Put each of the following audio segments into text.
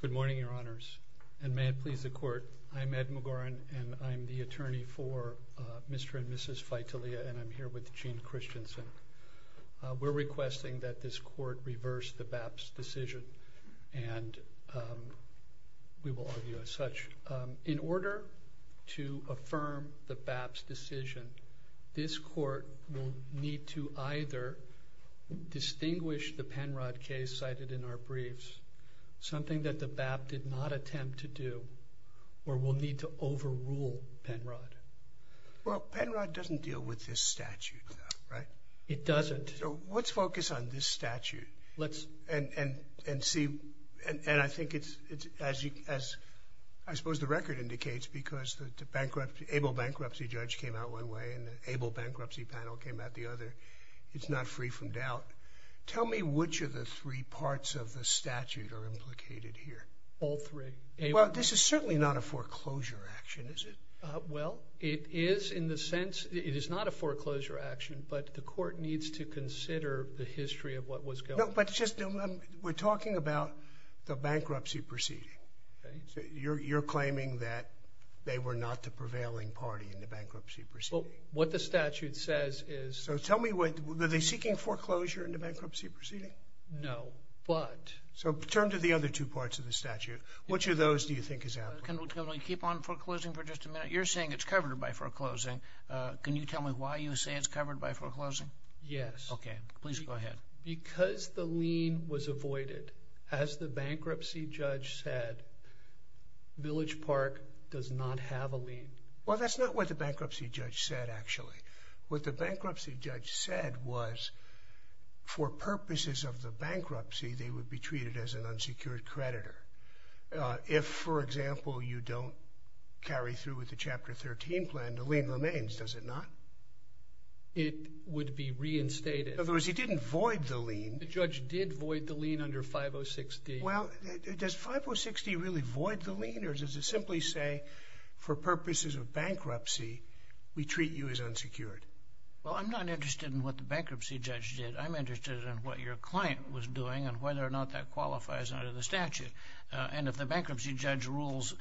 Good morning, Your Honors, and may it please the Court, I'm Ed McGoran, and I'm the attorney for Mr. and Mrs. Faitalia, and I'm here with Gene Christensen. We're requesting that this Court reverse the BAPS decision, and we will argue as such. In order to affirm the BAPS decision, this Court will need to either distinguish the Penrod case cited in our briefs, something that the BAPS did not attempt to do, or we'll need to overrule Penrod. Well, Penrod doesn't deal with this statute though, right? It doesn't. So let's focus on this statute, and see, and Penrod came out one way, and the Able Bankruptcy Panel came out the other. It's not free from doubt. Tell me which of the three parts of the statute are implicated here. All three. Well, this is certainly not a foreclosure action, is it? Well, it is in the sense, it is not a foreclosure action, but the Court needs to consider the history of what was going on. No, but just, we're talking about the bankruptcy proceeding. You're claiming that they were not the prevailing party in the bankruptcy proceeding. Well, what the statute says is... So tell me, were they seeking foreclosure in the bankruptcy proceeding? No, but... So turn to the other two parts of the statute. Which of those do you think is applicable? Governor, you keep on foreclosing for just a minute. You're saying it's covered by foreclosing. Can you tell me why you say it's covered by foreclosing? Yes. Okay, please as the bankruptcy judge said, Village Park does not have a lien. Well, that's not what the bankruptcy judge said, actually. What the bankruptcy judge said was, for purposes of the bankruptcy, they would be treated as an unsecured creditor. If, for example, you don't carry through with the Chapter 13 plan, the lien remains, does it not? It would be a lien under 5060. Well, does 5060 really void the lien, or does it simply say, for purposes of bankruptcy, we treat you as unsecured? Well, I'm not interested in what the bankruptcy judge did. I'm interested in what your client was doing and whether or not that qualifies under the statute. And if the bankruptcy judge rules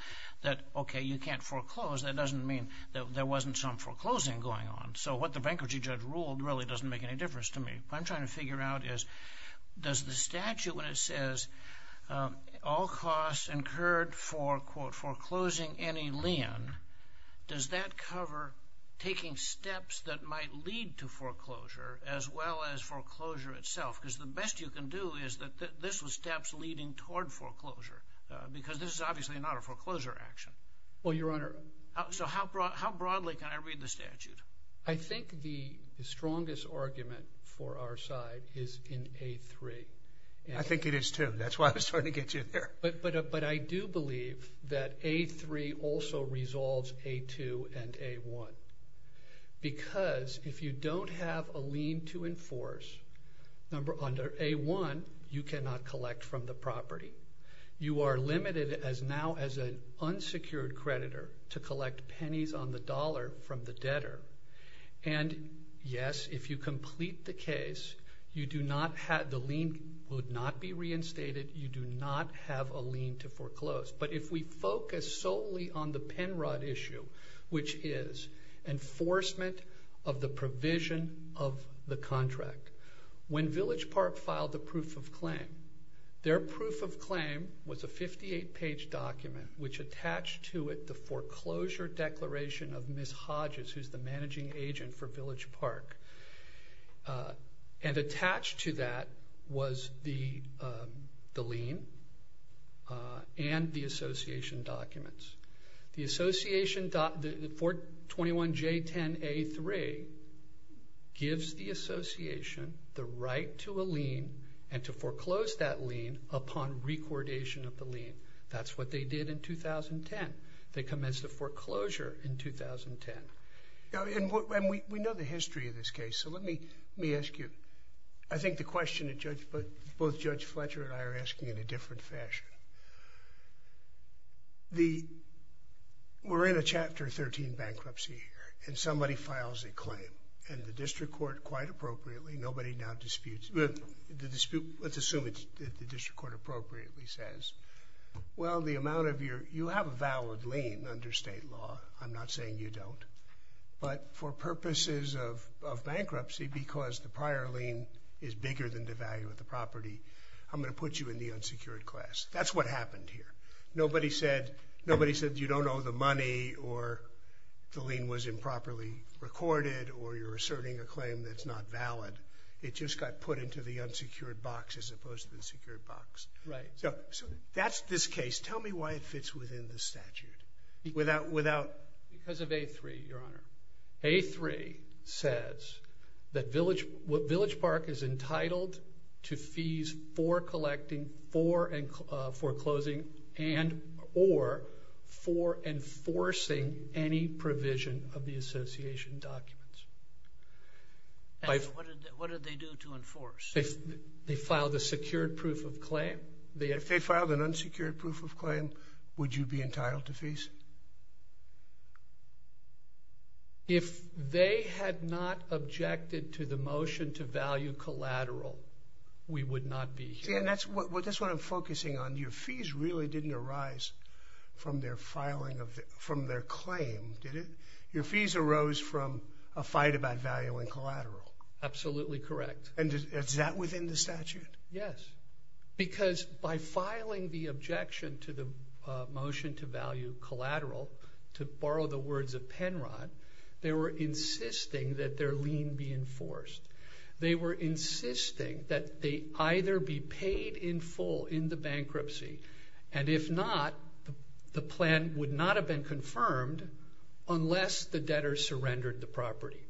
that, okay, you can't foreclose, that doesn't mean that there wasn't some foreclosing going on. So what the bankruptcy judge ruled really doesn't make any difference to me. What I'm trying to figure out is, does the statute when it says, all costs incurred for, quote, foreclosing any lien, does that cover taking steps that might lead to foreclosure as well as foreclosure itself? Because the best you can do is that this was steps leading toward foreclosure, because this is obviously not a foreclosure action. Well, Your Honor. So how broadly can I read the statute? I think the strongest argument for our side is in A3. I think it is, too. That's why I was trying to get you there. But I do believe that A3 also resolves A2 and A1. Because if you don't have a lien to enforce under A1, you cannot collect from the property. You are limited now as an unsecured creditor to collect pennies on the dollar from the debtor. And yes, if you complete the case, the lien would not be reinstated, you do not have a lien to foreclose. But if we focus solely on the Penrod issue, which is enforcement of the provision of the which attached to it the foreclosure declaration of Ms. Hodges, who is the managing agent for Village Park. And attached to that was the lien and the association documents. The 421J10A3 gives the association the right to a lien and to foreclose that lien upon recordation of the lien. That's what they did in 2010. They commenced the foreclosure in 2010. We know the history of this case, so let me ask you. I think the question both Judge Fletcher and I are asking in a different fashion. We're in a Chapter 13 bankruptcy here, and somebody files a claim. And the district court quite appropriately, nobody now disputes. Let's assume the district court appropriately says, well, the amount of your, you have a valid lien under state law. I'm not saying you don't. But for purposes of bankruptcy, because the prior lien is bigger than the value of the property, I'm going to put you in the unsecured class. That's what happened here. Nobody said, you don't owe the money, or the lien was improperly recorded, or you're asserting a claim that's not valid. It just got put into the unsecured box as opposed to the secured box. Right. So that's this case. Tell me why it fits within the statute. Because of A3, Your Honor. A3 says that Village Park is entitled to fees for collecting, for foreclosing, and or for enforcing any provision of the association documents. What did they do to enforce? They filed a secured proof of claim. If they filed an unsecured proof of claim, would you be entitled to fees? If they had not objected to the motion to value collateral, we would not be here. That's what I'm focusing on. Your fees really didn't arise from their filing of, from their claim, did it? Your fees arose from a fight about value and collateral. Absolutely correct. And is that within the statute? Yes. Because by filing the objection to the motion to value collateral, to borrow the words of Penrod, they were insisting that their lien be enforced. They were insisting that they either be paid in full in the bankruptcy, and if not, the plan would not have been confirmed unless the debtor surrendered the property.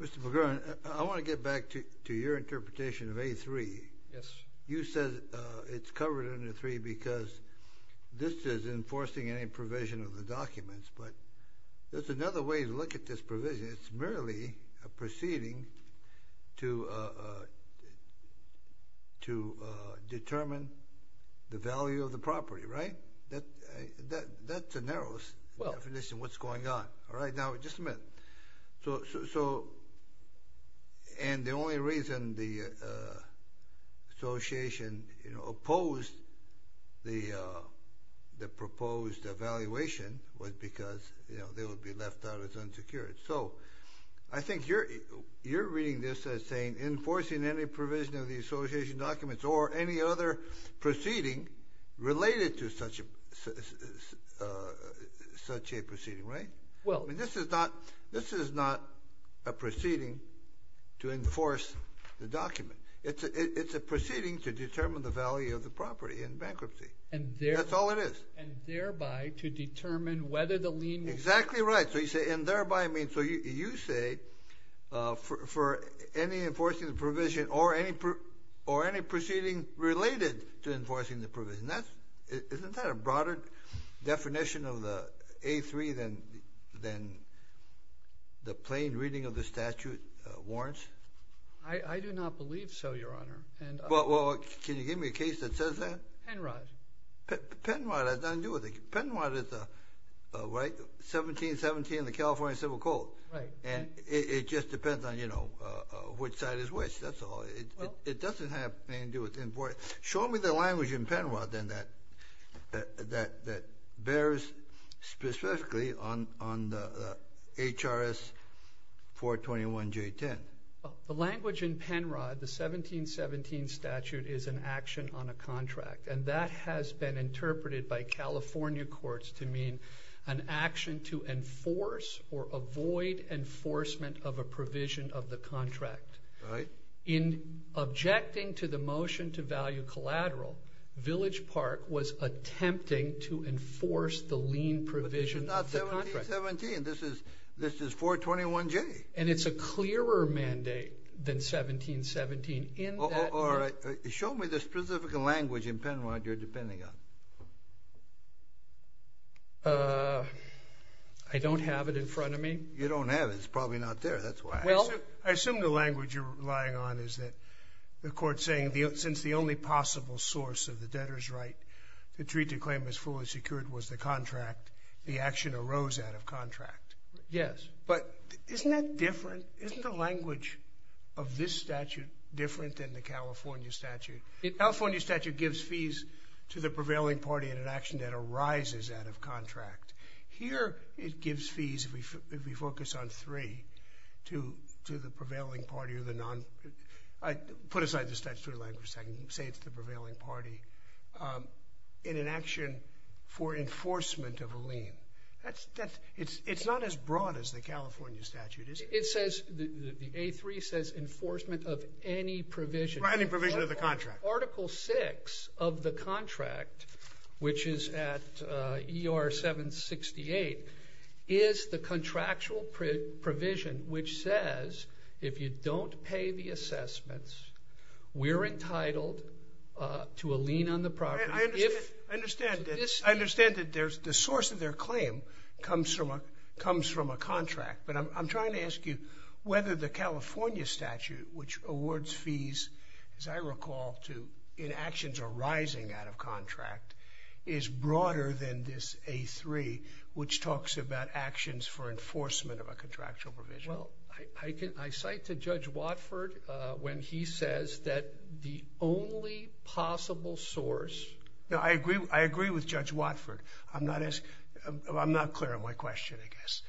Mr. McGurin, I want to get back to your interpretation of A3. Yes. You said it's covered under A3 because this is enforcing any provision of the documents, but there's another way to look at this provision. It's merely a proceeding to determine the value of the property, right? That's the narrowest definition of what's going on. Now, just a minute. The only reason the association opposed the proposed evaluation was because, you know, they would be left out as unsecured. So I think you're reading this as saying enforcing any provision of the association documents or any other proceeding related to such a proceeding, right? Well. I mean, this is not, this is not a proceeding to enforce the document. It's a proceeding to determine the value of the property in order to determine whether the lien will be paid. Exactly right. So you say, for any enforcing the provision or any proceeding related to enforcing the provision. Isn't that a broader definition of the A3 than the plain reading of the statute warrants? I do not believe so, Your Honor. Well, can you give me a case that says that? Penrod. Penrod has nothing to do with it. Penrod is a, right? 1717 in the California Civil Code. And it just depends on, you know, which side is which. That's all. It doesn't have anything to do with enforcing. Show me the language in Penrod then that bears specifically on the HRS 421J10. The language in Penrod, the 1717 statute is an action on a contract. And that has been interpreted by California courts to mean an action to enforce or avoid enforcement of a provision of the contract. Right. In objecting to the motion to value collateral, Village Park was attempting to enforce the lien provision of the contract. But this is not 1717. This is, this is 421J. And it's a clearer mandate than 1717 in that. All right. Show me the specific language in Penrod you're depending on. I don't have it in front of me. You don't have it. It's probably not there. That's why. Well, I assume the language you're relying on is that the court's saying since the only possible source of the debtor's right to treat the claim as fully secured was the contract, the action arose out of contract. Yes. But isn't that different? Isn't the language of this statute different than the California statute? The California statute gives fees to the prevailing party in an action that arises out of contract. Here it gives fees, if we focus on three, to the prevailing party or the non, put aside the statutory language so I can say it's the prevailing party, in an action for enforcement of a lien. That's, that's, it's not as broad as the California statute is. It says, the A3 says enforcement of any provision. Right, any provision of the contract. Article 6 of the contract, which is at ER 768, is the contractual provision which says if you don't pay the assessments, we're entitled to a lien on the property if I understand that the source of their claim comes from a contract, but I'm trying to ask you whether the California statute, which awards fees, as I recall, in actions arising out of contract, is broader than this A3 which talks about actions for enforcement of a contractual provision. Well, I cite to Judge Watford when he says that the only possible source No, I agree, I agree with Judge Watford. I'm not as, I'm not clear on my question, I guess.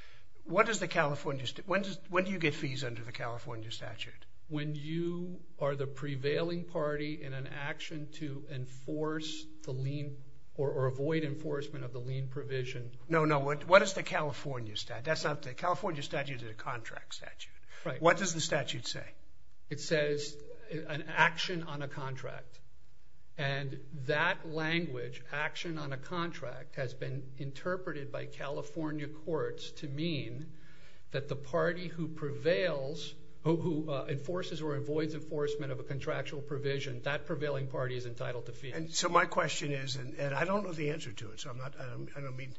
What does the California, when do you get fees under the California statute? When you are the prevailing party in an action to enforce the lien, or avoid enforcement of the lien provision. No, no, what is the California statute? That's not, the California statute is a contract statute. Right. What does the statute say? It says an action on a contract, and that language, action on a contract, has been interpreted by California courts to mean that the party who prevails, who enforces or avoids enforcement of a contractual provision, that prevailing party is entitled to fees. And so my question is, and I don't know the answer to it, so I'm not, I don't mean,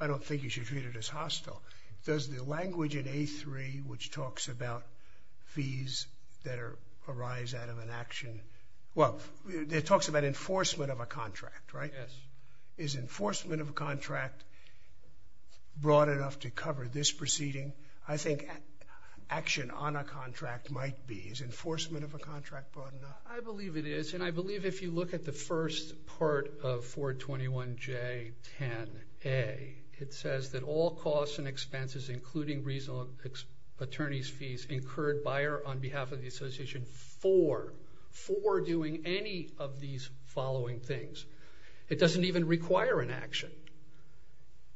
I don't think you should treat it as Well, it talks about enforcement of a contract, right? Yes. Is enforcement of a contract broad enough to cover this proceeding? I think action on a contract might be. Is enforcement of a contract broad enough? I believe it is, and I believe if you look at the first part of 421J10A, it says that all costs and expenses, including reasonable attorney's fees, incurred on behalf of the association for, for doing any of these following things. It doesn't even require an action.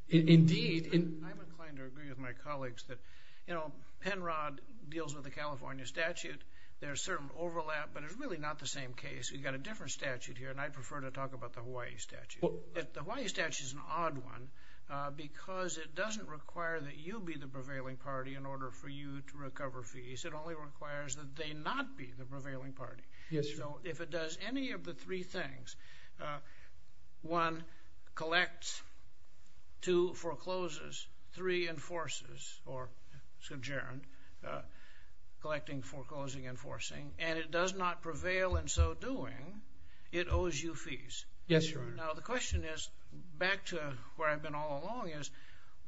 Indeed. I'm inclined to agree with my colleagues that, you know, Penrod deals with the California statute. There's certain overlap, but it's really not the same case. We've got a different statute here, and I prefer to talk about the Hawaii statute. The Hawaii statute is an odd one, because it doesn't require that you be the prevailing party. It requires that they not be the prevailing party. Yes, Your Honor. So, if it does any of the three things, one, collects, two, forecloses, three, enforces, or sojourned, collecting, foreclosing, enforcing, and it does not prevail in so doing, it owes you fees. Yes, Your Honor. Now, the question is, back to where I've been all along, is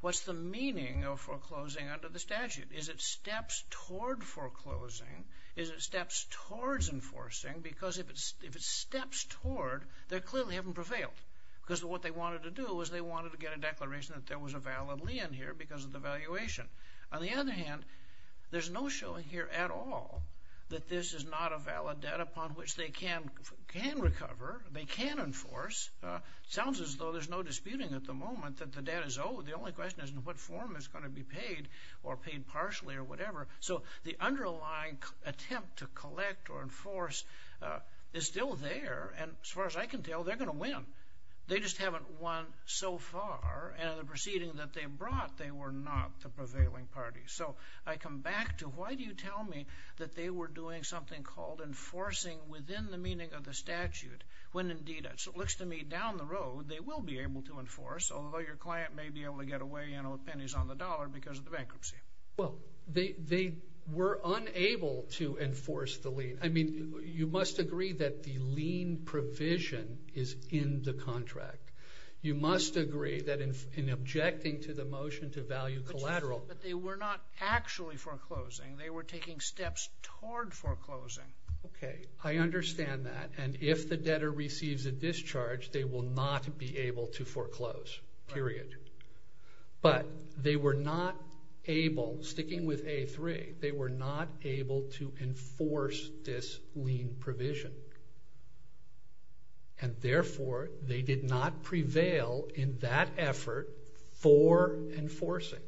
what's the meaning of foreclosing under the statute? Is it steps toward foreclosing? Is it steps towards enforcing? Because if it's, if it's steps toward, they clearly haven't prevailed. Because what they wanted to do was they wanted to get a declaration that there was a valid lien here because of the valuation. On the other hand, there's no showing here at all that this is not a valid debt upon which they can, can recover, they can enforce. Sounds as though there's no disputing at the moment that the debt is owed. The only question is in what form it's going to be paid, or paid partially, or whatever. So, the underlying attempt to collect or enforce is still there, and as far as I can tell, they're going to win. They just haven't won so far, and in the proceeding that they brought, they were not the prevailing party. So, I come back to why do you tell me that they were doing something called enforcing within the meaning of the statute, when indeed it looks to me, down the road, they will be able to enforce, although your client may be able to get away with pennies on the dollar because of the bankruptcy. Well, they were unable to enforce the lien. I mean, you must agree that the lien provision is in the contract. You must agree that in objecting to the motion to value collateral. But they were not actually foreclosing. They were taking steps toward foreclosing. Okay, I understand that, and if the debtor receives a discharge, they will not be able to foreclose, period. But they were not able, sticking with A3, they were not able to enforce this lien provision, and therefore, they did not prevail in that effort for enforcing.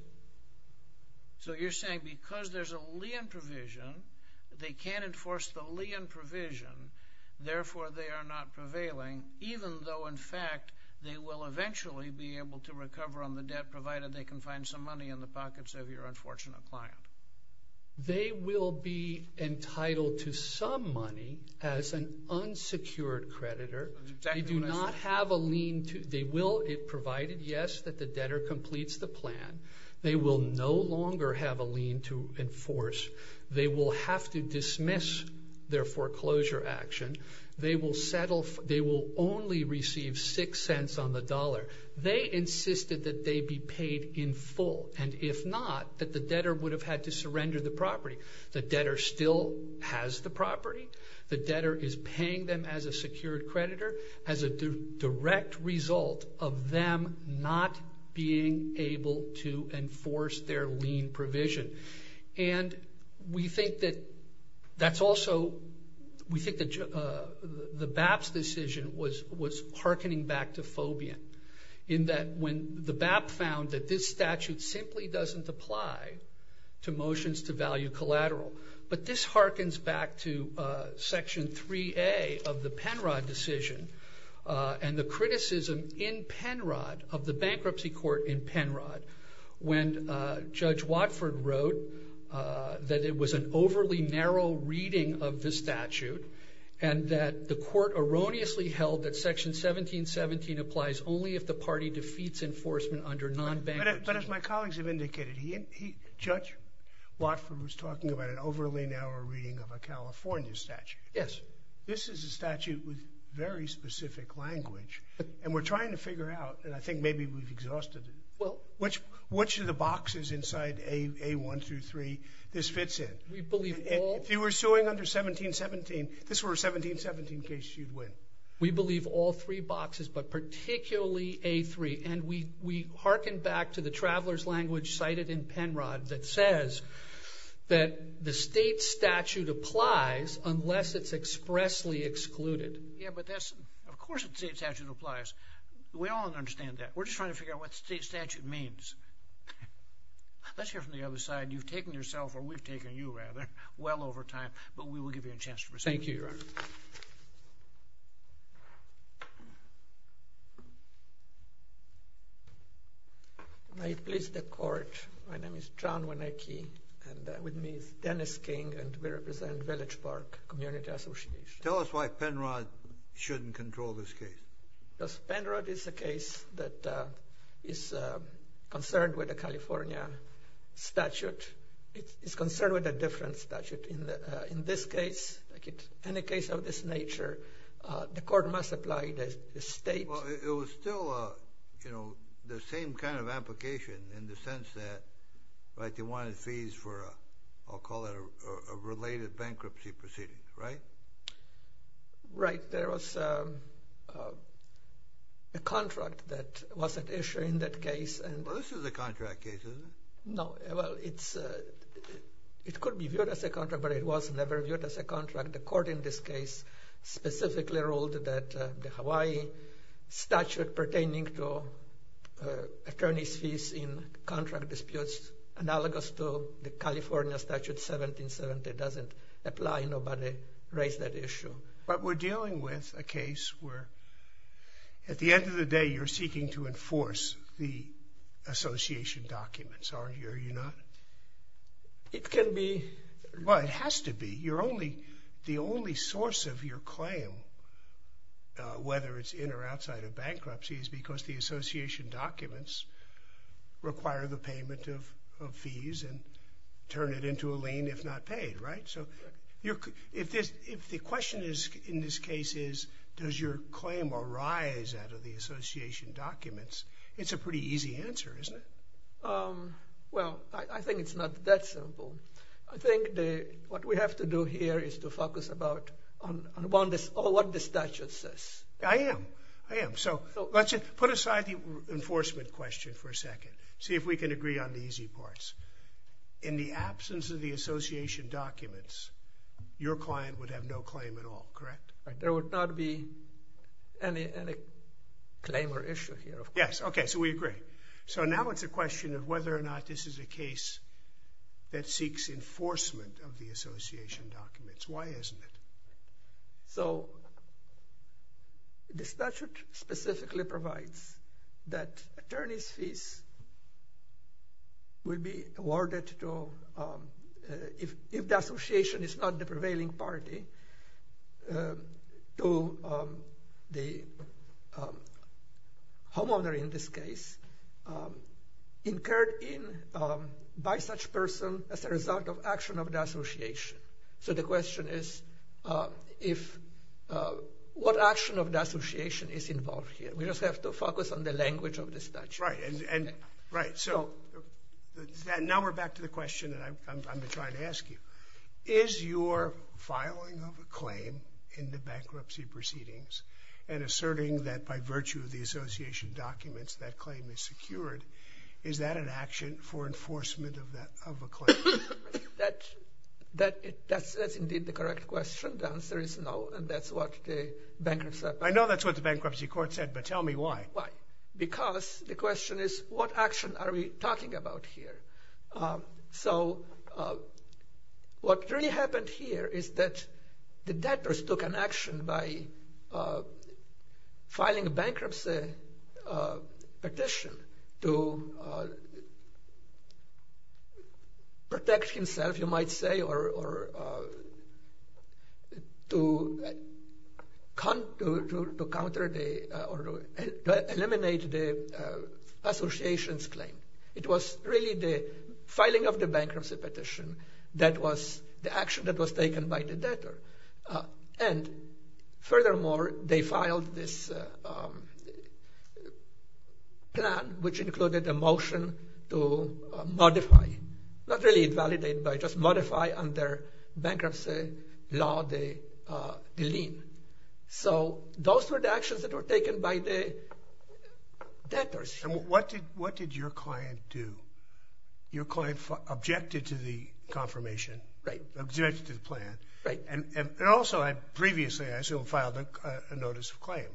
So, you're saying because there's a lien provision, they can't enforce the lien provision, therefore, they are not prevailing, even though, in fact, they will eventually be able to recover on the debt, provided they can find some money in the pockets of your unfortunate client. They will be entitled to some money as an unsecured creditor. They do not have a lien provided, yes, that the debtor completes the plan. They will no longer have a lien to enforce. They will have to dismiss their foreclosure action. They will only receive six cents on the dollar. They insisted that they be paid in full, and if not, that the debtor would have had to surrender the property. The debtor still has the property. The debtor is paying them as a secured creditor as a direct result of them not being able to enforce their lien provision. And we think that that's also, we think that the BAP's decision was harkening back to phobia, in that when the BAP found that this statute simply doesn't apply to the Penrod decision, and the criticism in Penrod, of the bankruptcy court in Penrod, when Judge Watford wrote that it was an overly narrow reading of the statute, and that the court erroneously held that Section 1717 applies only if the party defeats enforcement under non-bankruptcy. But as my colleagues have indicated, Judge Watford was talking about an overly narrow reading of a California statute. This is a statute with very specific language, and we're trying to figure out, and I think maybe we've exhausted it, which of the boxes inside A1 through 3 this fits in. If you were suing under 1717, if this were a 1717 case, you'd win. We believe all three boxes, but particularly A3, and we harken back to the traveler's language cited in Penrod that says that the state statute applies unless it's expressly excluded. Yeah, but that's, of course a state statute applies. We all understand that. We're just trying to figure out what state statute means. Let's hear from the other side. You've taken yourself, or we've taken you rather, well over time, but we will give you a chance to respond. Thank you, Your Honor. May it please the Court, my name is John Wernicke, and with me is Dennis King, and we represent Village Park Community Association. Tell us why Penrod shouldn't control this case. Because Penrod is a case that is concerned with a California statute. It's concerned with a different statute. In this case, any case of this nature, the Court must apply the state... Well, it was still, you know, the same kind of application in the sense that they wanted fees for a, I'll call it a related bankruptcy proceeding, right? Right. There was a contract that was at issue in that case. Well, this is a contract case, isn't it? No. Well, it could be viewed as a contract, but it was never viewed as a contract. The Court in this case specifically ruled that the Hawaii statute pertaining to attorney's fees in contract disputes, analogous to the California statute 1770, doesn't apply. Nobody raised that issue. But we're dealing with a case where, at the end of the day, you're association documents, aren't you? Are you not? It can be. Well, it has to be. The only source of your claim, whether it's in or outside of bankruptcy, is because the association documents require the payment of fees and turn it into a lien if not paid, right? So if the question in this case is, does your claim arise out of the association documents, it's a pretty easy answer, isn't it? Well, I think it's not that simple. I think what we have to do here is to focus on what the statute says. I am. I am. So let's put aside the enforcement question for a second. See if we can agree on the easy parts. In the absence of the association documents, your client would have no claim at all, correct? There would not be any claim or issue here. Yes, okay, so we agree. So now it's a question of whether or not this is a case that seeks enforcement of the association documents. Why isn't it? So the statute specifically provides that attorneys' fees will be awarded to, if the association is not the prevailing party, to the homeowner in this case, incurred in by such person as a result of action of the association. So the question is, what action of the association is involved here? We just have to focus on the language of the question that I'm trying to ask you. Is your filing of a claim in the bankruptcy proceedings and asserting that by virtue of the association documents that claim is secured, is that an action for enforcement of a claim? That's indeed the correct question. The answer is no, and that's what the bankruptcy court said. I know that's what the bankruptcy court said, but tell me why. Why? Because the question is, what action are we talking about here? So what really happened here is that the debtors took an action by filing a bankruptcy petition to protect himself, you might say, or to eliminate the association's claim. It was really the filing of the bankruptcy petition that was the action that was taken by the plan, which included a motion to modify, not really invalidate, but just modify under bankruptcy law the lien. So those were the actions that were taken by the debtors. And what did your client do? Your client objected to the confirmation? Right. Objected to the plan? Right. And also, previously, I assume, filed a notice of claim,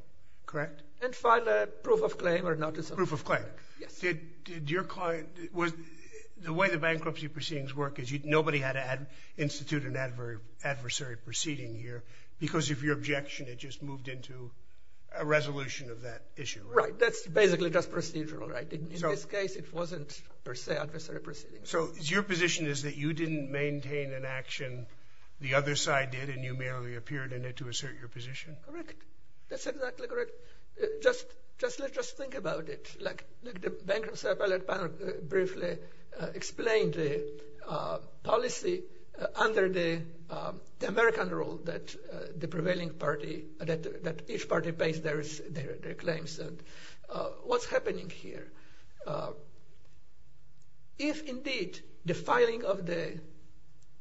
correct? And filed a proof of claim or notice of claim. Proof of claim. Yes. Did your client... The way the bankruptcy proceedings work is nobody had to institute an adversary proceeding here, because if your objection, it just moved into a resolution of that issue, right? Right. That's basically just procedural, right? In this case, it wasn't, per se, adversary proceedings. So your position is that you didn't maintain an action, the other side did, and you merely appeared in it to assert your position? Correct. That's exactly correct. Just think about it. The bankruptcy appellate panel briefly explained the policy under the American rule that the prevailing party, that each party pays their claims. What's happening here? If, indeed, the filing of the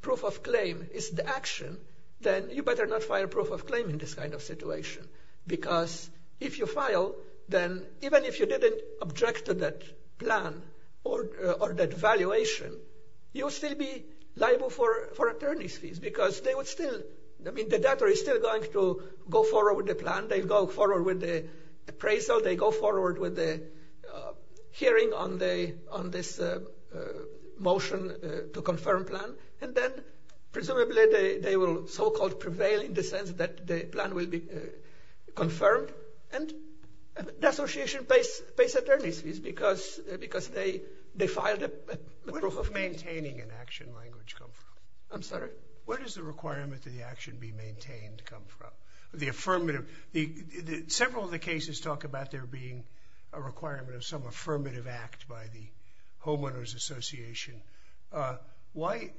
proof of claim is the action, then you better not file proof of claim in this kind of situation, because if you file, then even if you didn't object to that plan or that valuation, you'll still be liable for attorney's fees, because they would still... I mean, the debtor is still going to go forward with the plan, they go forward with the appraisal, they go forward with the hearing on this motion to confirm plan, and then presumably they will so-called prevail in the sense that the plan will be confirmed, and the association pays attorney's fees because they filed a proof of claim. Where does maintaining an action language come from? I'm sorry? Where does the requirement that the action be maintained come from? The affirmative... You talk about there being a requirement of some affirmative act by the Homeowners Association. Why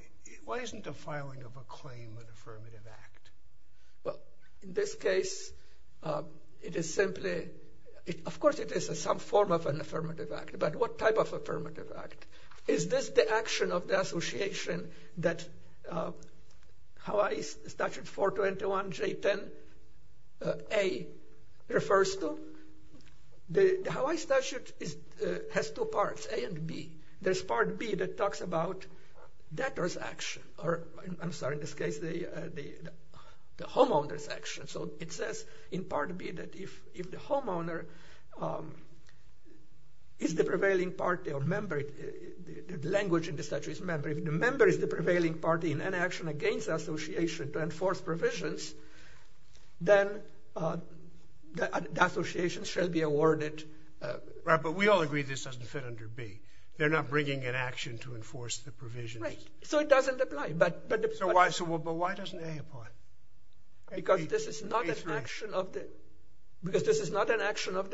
isn't the filing of a claim an affirmative act? Well, in this case, it is simply... Of course, it is some form of an affirmative act, but what type of affirmative act? Is this the action of the association that Hawaii Statute 421 J10A refers to? The Hawaii Statute has two parts, A and B. There's part B that talks about debtor's action, or I'm sorry, in this case, the homeowner's action. So it says in part B that if the homeowner is the prevailing party or member, the language in the statute is member, if the member is the prevailing party in any action against the association to enforce provisions, then the association shall be awarded... Right, but we all agree this doesn't fit under B. They're not bringing an action to enforce the provisions. Right, so it doesn't apply, but... So why doesn't A apply? Because this is not an action of the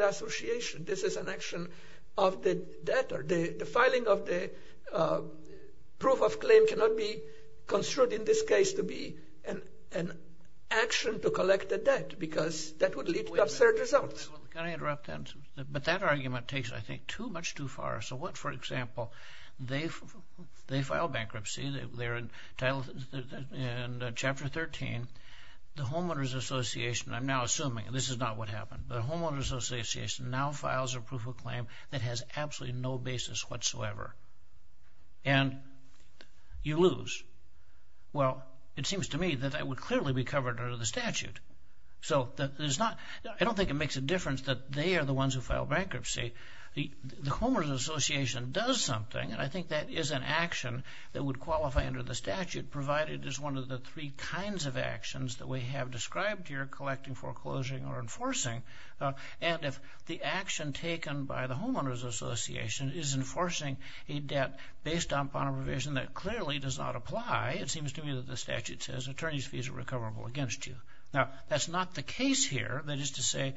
association. This is an action of the debtor. The filing of the proof of claim cannot be construed in this case to be an action to collect the debt, because that would lead to absurd results. Wait a minute. Can I interrupt that? But that argument takes, I think, too much too far. So what, for example, they file bankruptcy. They're entitled, in Chapter 13, the homeowners association, I'm now assuming, and this is not what happened, but the homeowners association now files a proof of claim that has absolutely no basis whatsoever, and you lose. Well, it seems to me that that would clearly be covered under the statute. I don't think it makes a difference that they are the ones who file bankruptcy. The homeowners association does something, and I think that is an action that would qualify under the statute, provided it is one of the three kinds of actions that we have described here, collecting, foreclosing, or enforcing, and if the action taken by the homeowners association is enforcing a debt based upon a provision that clearly does not apply, it seems to me that the statute says attorney's fees are recoverable against you. Now, that's not the case here. That is to say,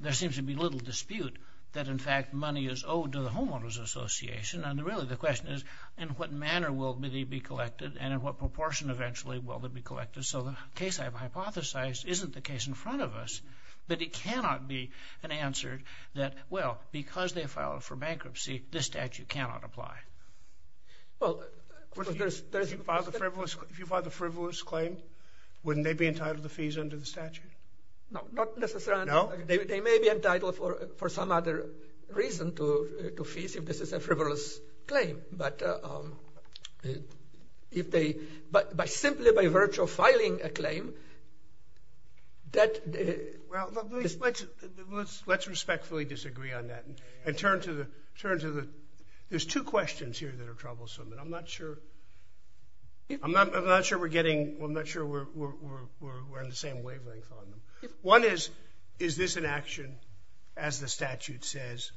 there seems to be little dispute that in fact money is owed to the homeowners association, and really the question is, in what manner will they be collected, and in what proportion eventually will they be collected? So the case I've hypothesized isn't the case in front of us, but it cannot be an answer that, well, because they filed for bankruptcy, this statute cannot apply. Well, there's... If you filed a frivolous claim, wouldn't they be entitled to the fees under the statute? No, not necessarily. No? They may be entitled for some other reason to fees if this is a frivolous claim, but if they... But simply by virtue of filing a claim, that... Well, let's respectfully disagree on that and turn to the... There's two questions here that are troublesome, and I'm not sure... I'm not sure we're getting... I'm not sure we're in the same wavelength on them. One is, is this an action, as the statute says,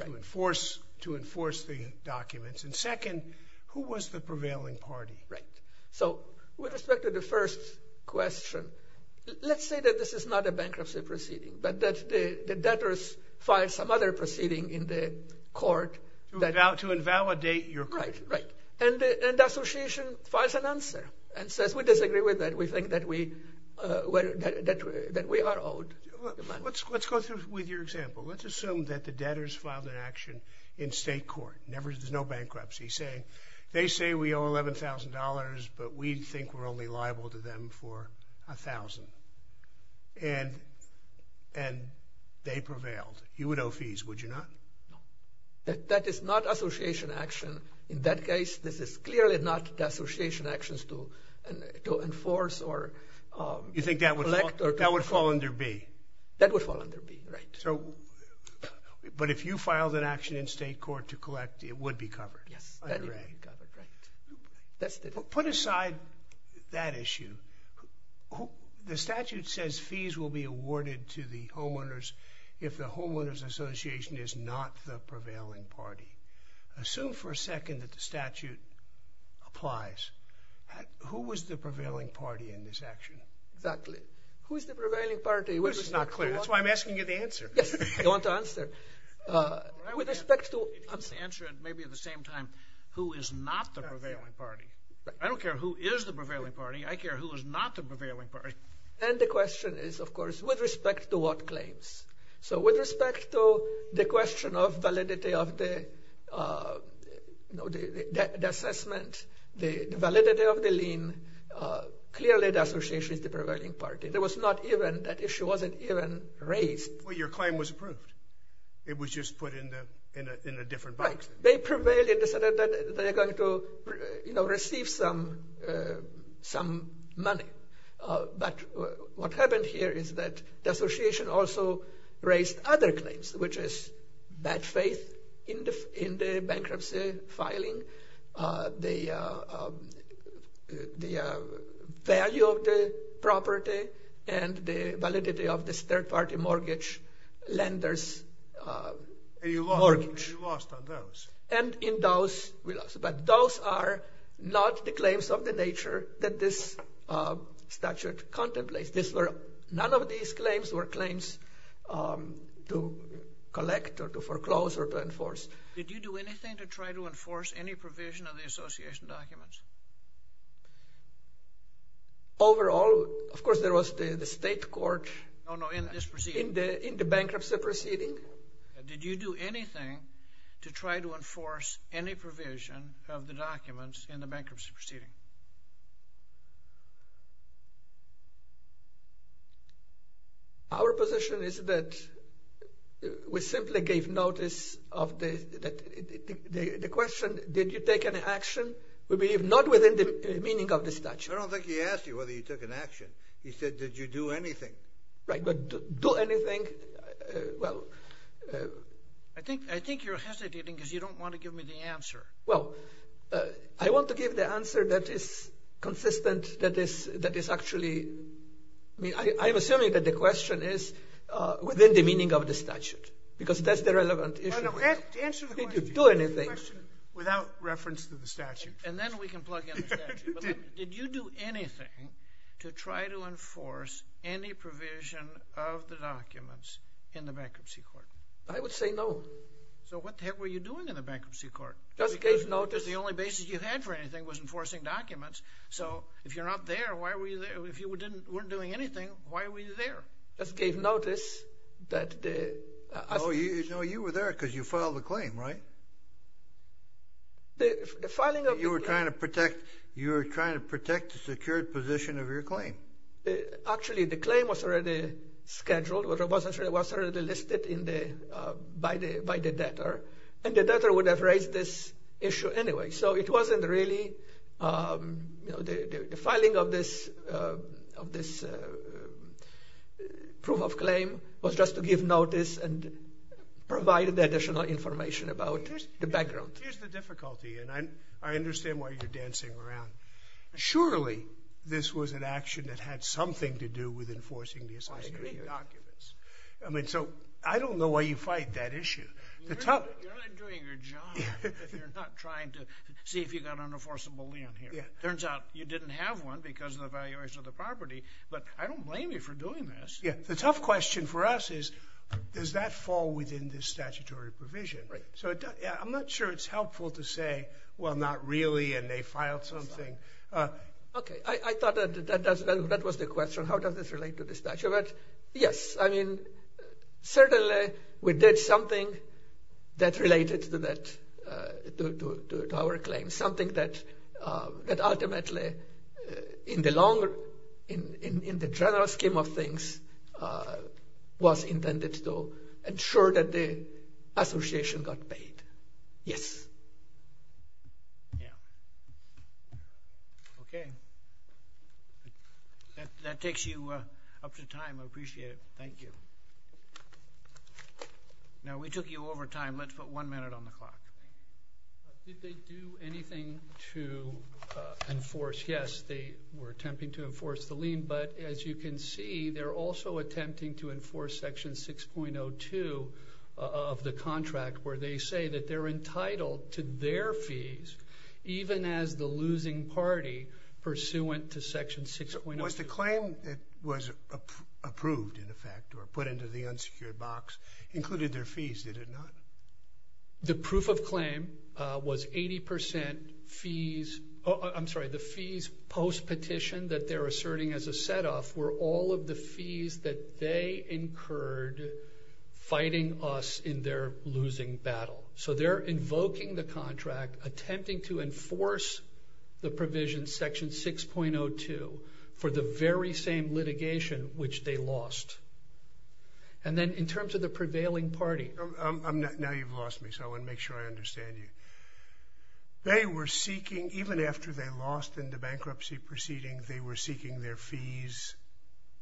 to enforce the documents? And second, who was the prevailing party? Right. So with respect to the first question, let's say that this is not a bankruptcy proceeding, but that the debtors filed some other proceeding in the court that... To invalidate your claim. Right, right. And the association files an answer and says, we disagree with that. We think that we are owed the money. Let's go through with your example. Let's assume that the debtors filed an action in state court. There's no bankruptcy. They say we owe $11,000, but we think we're only liable to them for $1,000. And they prevailed. You would owe fees, would you not? No. That is not association action. In that case, this is clearly not the association actions to enforce or... You think that would fall under B? That would fall under B, right. But if you filed an action in state court to collect, it would be covered? Yes, that would be covered, right. Put aside that issue. The statute says fees will be awarded to the homeowners if the homeowners association is not the prevailing party. Assume for a second that the statute applies. Who was the prevailing party in this action? Exactly. Who is the prevailing party? This is not clear. That's why I'm asking you the answer. Yes, I want to answer. With respect to... Answer it maybe at the same time. Who is not the prevailing party? I don't care who is the prevailing party. I care who is not the prevailing party. And the question is, of course, with respect to what claims? So with respect to the question of validity of the assessment, the validity of the lien, clearly the association is the prevailing party. There was not even that issue wasn't even raised. Well, your claim was approved. It was just put in a different box. Right. They prevailed in the sense that they are going to receive some money. But what happened here is that the association also raised other claims, which is bad faith in the bankruptcy filing, the value of the property, and the validity of this third-party mortgage lender's mortgage. You lost on those. And in those, we lost. But those are not the claims of the nature that this statute contemplates. None of these claims were claims to collect or to foreclose or to enforce. Did you do anything to try to enforce any provision of the association documents? Overall, of course, there was the state court in the bankruptcy proceeding. Did you do anything to try to enforce any provision of the documents in the bankruptcy proceeding? Our position is that we simply gave notice of the question, did you take an action? We believe not within the meaning of the statute. I don't think he asked you whether you took an action. He said, did you do anything? Right. But do anything? I think you're hesitating because you don't want to give me the answer. Well, I want to give the answer that is consistent, that is actually, I'm assuming that the question is within the meaning of the statute because that's the relevant issue. No, no, answer the question. Did you do anything? Answer the question without reference to the statute. And then we can plug in the statute. Did you do anything to try to enforce any provision of the documents in the bankruptcy court? I would say no. So what the heck were you doing in the bankruptcy court? Just gave notice. Because the only basis you had for anything was enforcing documents. So if you're not there, why were you there? If you weren't doing anything, why were you there? Just gave notice that the… No, you were there because you filed a claim, right? The filing of the claim… Were you trying to protect the secured position of your claim? Actually, the claim was already scheduled. It was already listed by the debtor. And the debtor would have raised this issue anyway. So it wasn't really, you know, the filing of this proof of claim was just to give notice and provide the additional information about the background. Here's the difficulty, and I understand why you're dancing around. Surely, this was an action that had something to do with enforcing the associated documents. I agree with you. I mean, so I don't know why you fight that issue. You're not doing your job if you're not trying to see if you've got unenforceability on here. It turns out you didn't have one because of the valuation of the property, but I don't blame you for doing this. Yeah, the tough question for us is, does that fall within this statutory provision? Right. So I'm not sure it's helpful to say, well, not really, and they filed something. Okay, I thought that was the question. How does this relate to the statute? Yes, I mean, certainly we did something that related to our claim, something that ultimately, in the general scheme of things, was intended to ensure that the association got paid. Yes. Yeah. Okay. That takes you up to time. I appreciate it. Thank you. Now, we took you over time. Let's put one minute on the clock. Did they do anything to enforce? Yes, they were attempting to enforce the lien, but as you can see, they're also attempting to enforce Section 6.02 of the contract, where they say that they're entitled to their fees, even as the losing party pursuant to Section 6.02. Was the claim that was approved, in effect, or put into the unsecured box, included their fees, did it not? The proof of claim was 80% fees. I'm sorry, the fees post-petition that they're asserting as a set-off were all of the fees that they incurred fighting us in their losing battle. So they're invoking the contract, attempting to enforce the provision, Section 6.02, for the very same litigation which they lost. And then in terms of the prevailing party. Now you've lost me, so I want to make sure I understand you. They were seeking, even after they lost in the bankruptcy proceeding, they were seeking their fees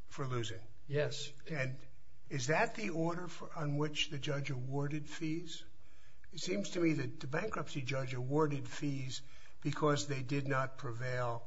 for losing. Yes. And is that the order on which the judge awarded fees? It seems to me that the bankruptcy judge awarded fees because they did not prevail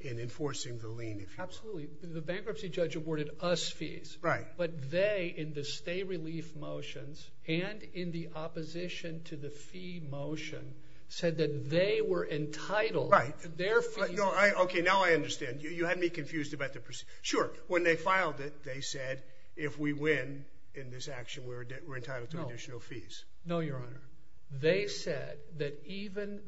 in enforcing the lien. Absolutely. The bankruptcy judge awarded us fees. Right. But they, in the stay-relief motions and in the opposition to the fee motion, said that they were entitled to their fees. Okay, now I understand. You had me confused about the proceedings. Sure, when they filed it, they said, if we win in this action, we're entitled to additional fees. No, Your Honor. They said that even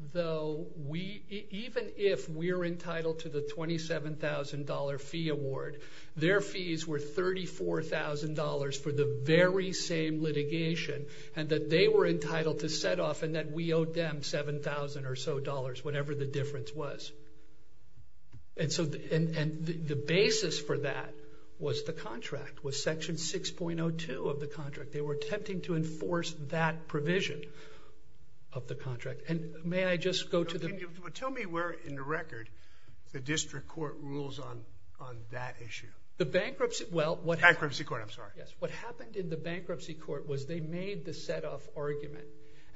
if we're entitled to the $27,000 fee award, their fees were $34,000 for the very same litigation and that they were entitled to set off and that we owed them $7,000 or so, whatever the difference was. And the basis for that was the contract, was Section 6.02 of the contract. They were attempting to enforce that provision of the contract. And may I just go to the— The district court rules on that issue. The bankruptcy— Bankruptcy court, I'm sorry. Yes. What happened in the bankruptcy court was they made the set-off argument.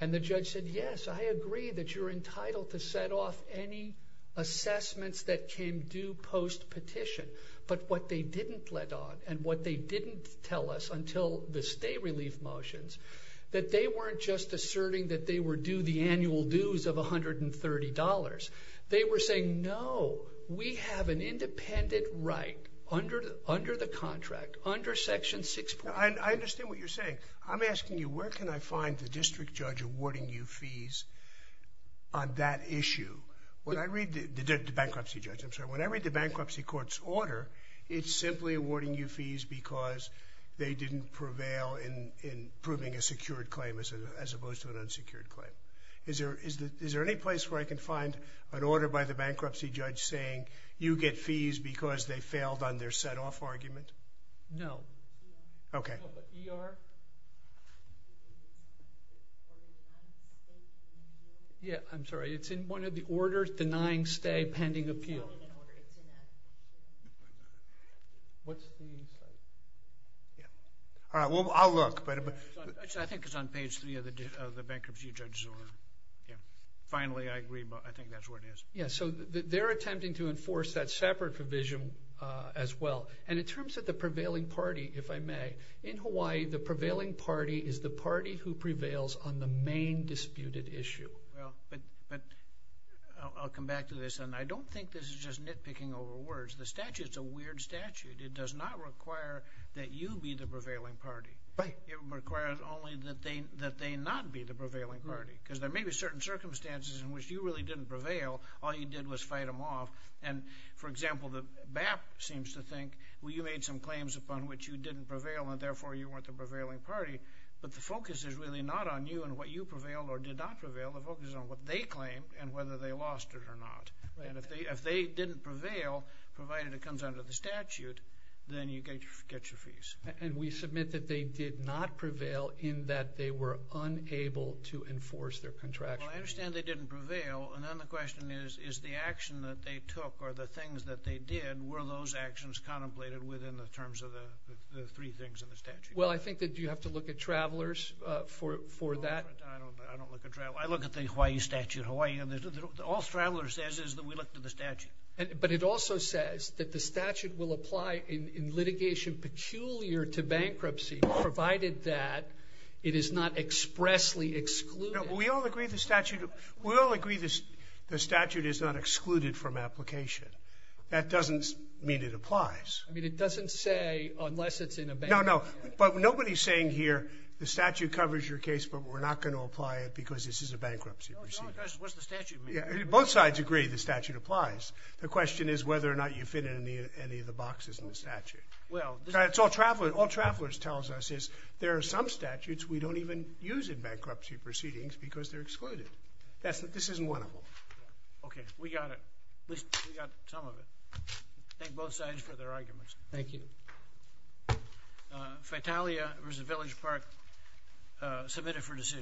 And the judge said, yes, I agree that you're entitled to set off any assessments that came due post-petition. But what they didn't let on and what they didn't tell us until the stay-relief motions, that they weren't just asserting that they were due the annual dues of $130. They were saying, no, we have an independent right under the contract, under Section 6.02. I understand what you're saying. I'm asking you, where can I find the district judge awarding you fees on that issue? The bankruptcy judge, I'm sorry. When I read the bankruptcy court's order, it's simply awarding you fees because they didn't prevail in proving a secured claim as opposed to an unsecured claim. Is there any place where I can find an order by the bankruptcy judge saying you get fees because they failed on their set-off argument? No. Okay. ER? Yeah, I'm sorry. It's in one of the orders denying stay pending appeal. What's the— All right. Well, I'll look. I think it's on page three of the bankruptcy judge's order. Yeah. Finally, I agree, but I think that's where it is. Yeah, so they're attempting to enforce that separate provision as well. And in terms of the prevailing party, if I may, in Hawaii, the prevailing party is the party who prevails on the main disputed issue. Well, but I'll come back to this, and I don't think this is just nitpicking over words. The statute's a weird statute. It does not require that you be the prevailing party. Right. It requires only that they not be the prevailing party because there may be certain circumstances in which you really didn't prevail. All you did was fight them off. And, for example, the BAP seems to think, well, you made some claims upon which you didn't prevail, and therefore you weren't the prevailing party. But the focus is really not on you and what you prevailed or did not prevail. The focus is on what they claimed and whether they lost it or not. And if they didn't prevail, provided it comes under the statute, then you get your fees. And we submit that they did not prevail in that they were unable to enforce their contract. Well, I understand they didn't prevail, and then the question is, is the action that they took or the things that they did, were those actions contemplated within the terms of the three things in the statute? Well, I think that you have to look at Travelers for that. I don't look at Travelers. I look at the Hawaii statute. All Travelers says is that we look to the statute. But it also says that the statute will apply in litigation peculiar to bankruptcy, provided that it is not expressly excluded. We all agree the statute is not excluded from application. That doesn't mean it applies. I mean, it doesn't say unless it's in a bankruptcy. No, no. But nobody is saying here the statute covers your case, but we're not going to apply it because this is a bankruptcy proceeding. No, no, because what does the statute mean? Both sides agree the statute applies. The question is whether or not you fit in any of the boxes in the statute. All Travelers tells us is there are some statutes we don't even use in bankruptcy proceedings because they're excluded. This isn't one of them. Okay. We got it. At least we got some of it. Thank both sides for their arguments. Thank you. Fatalia v. Village Park, submitted for decision.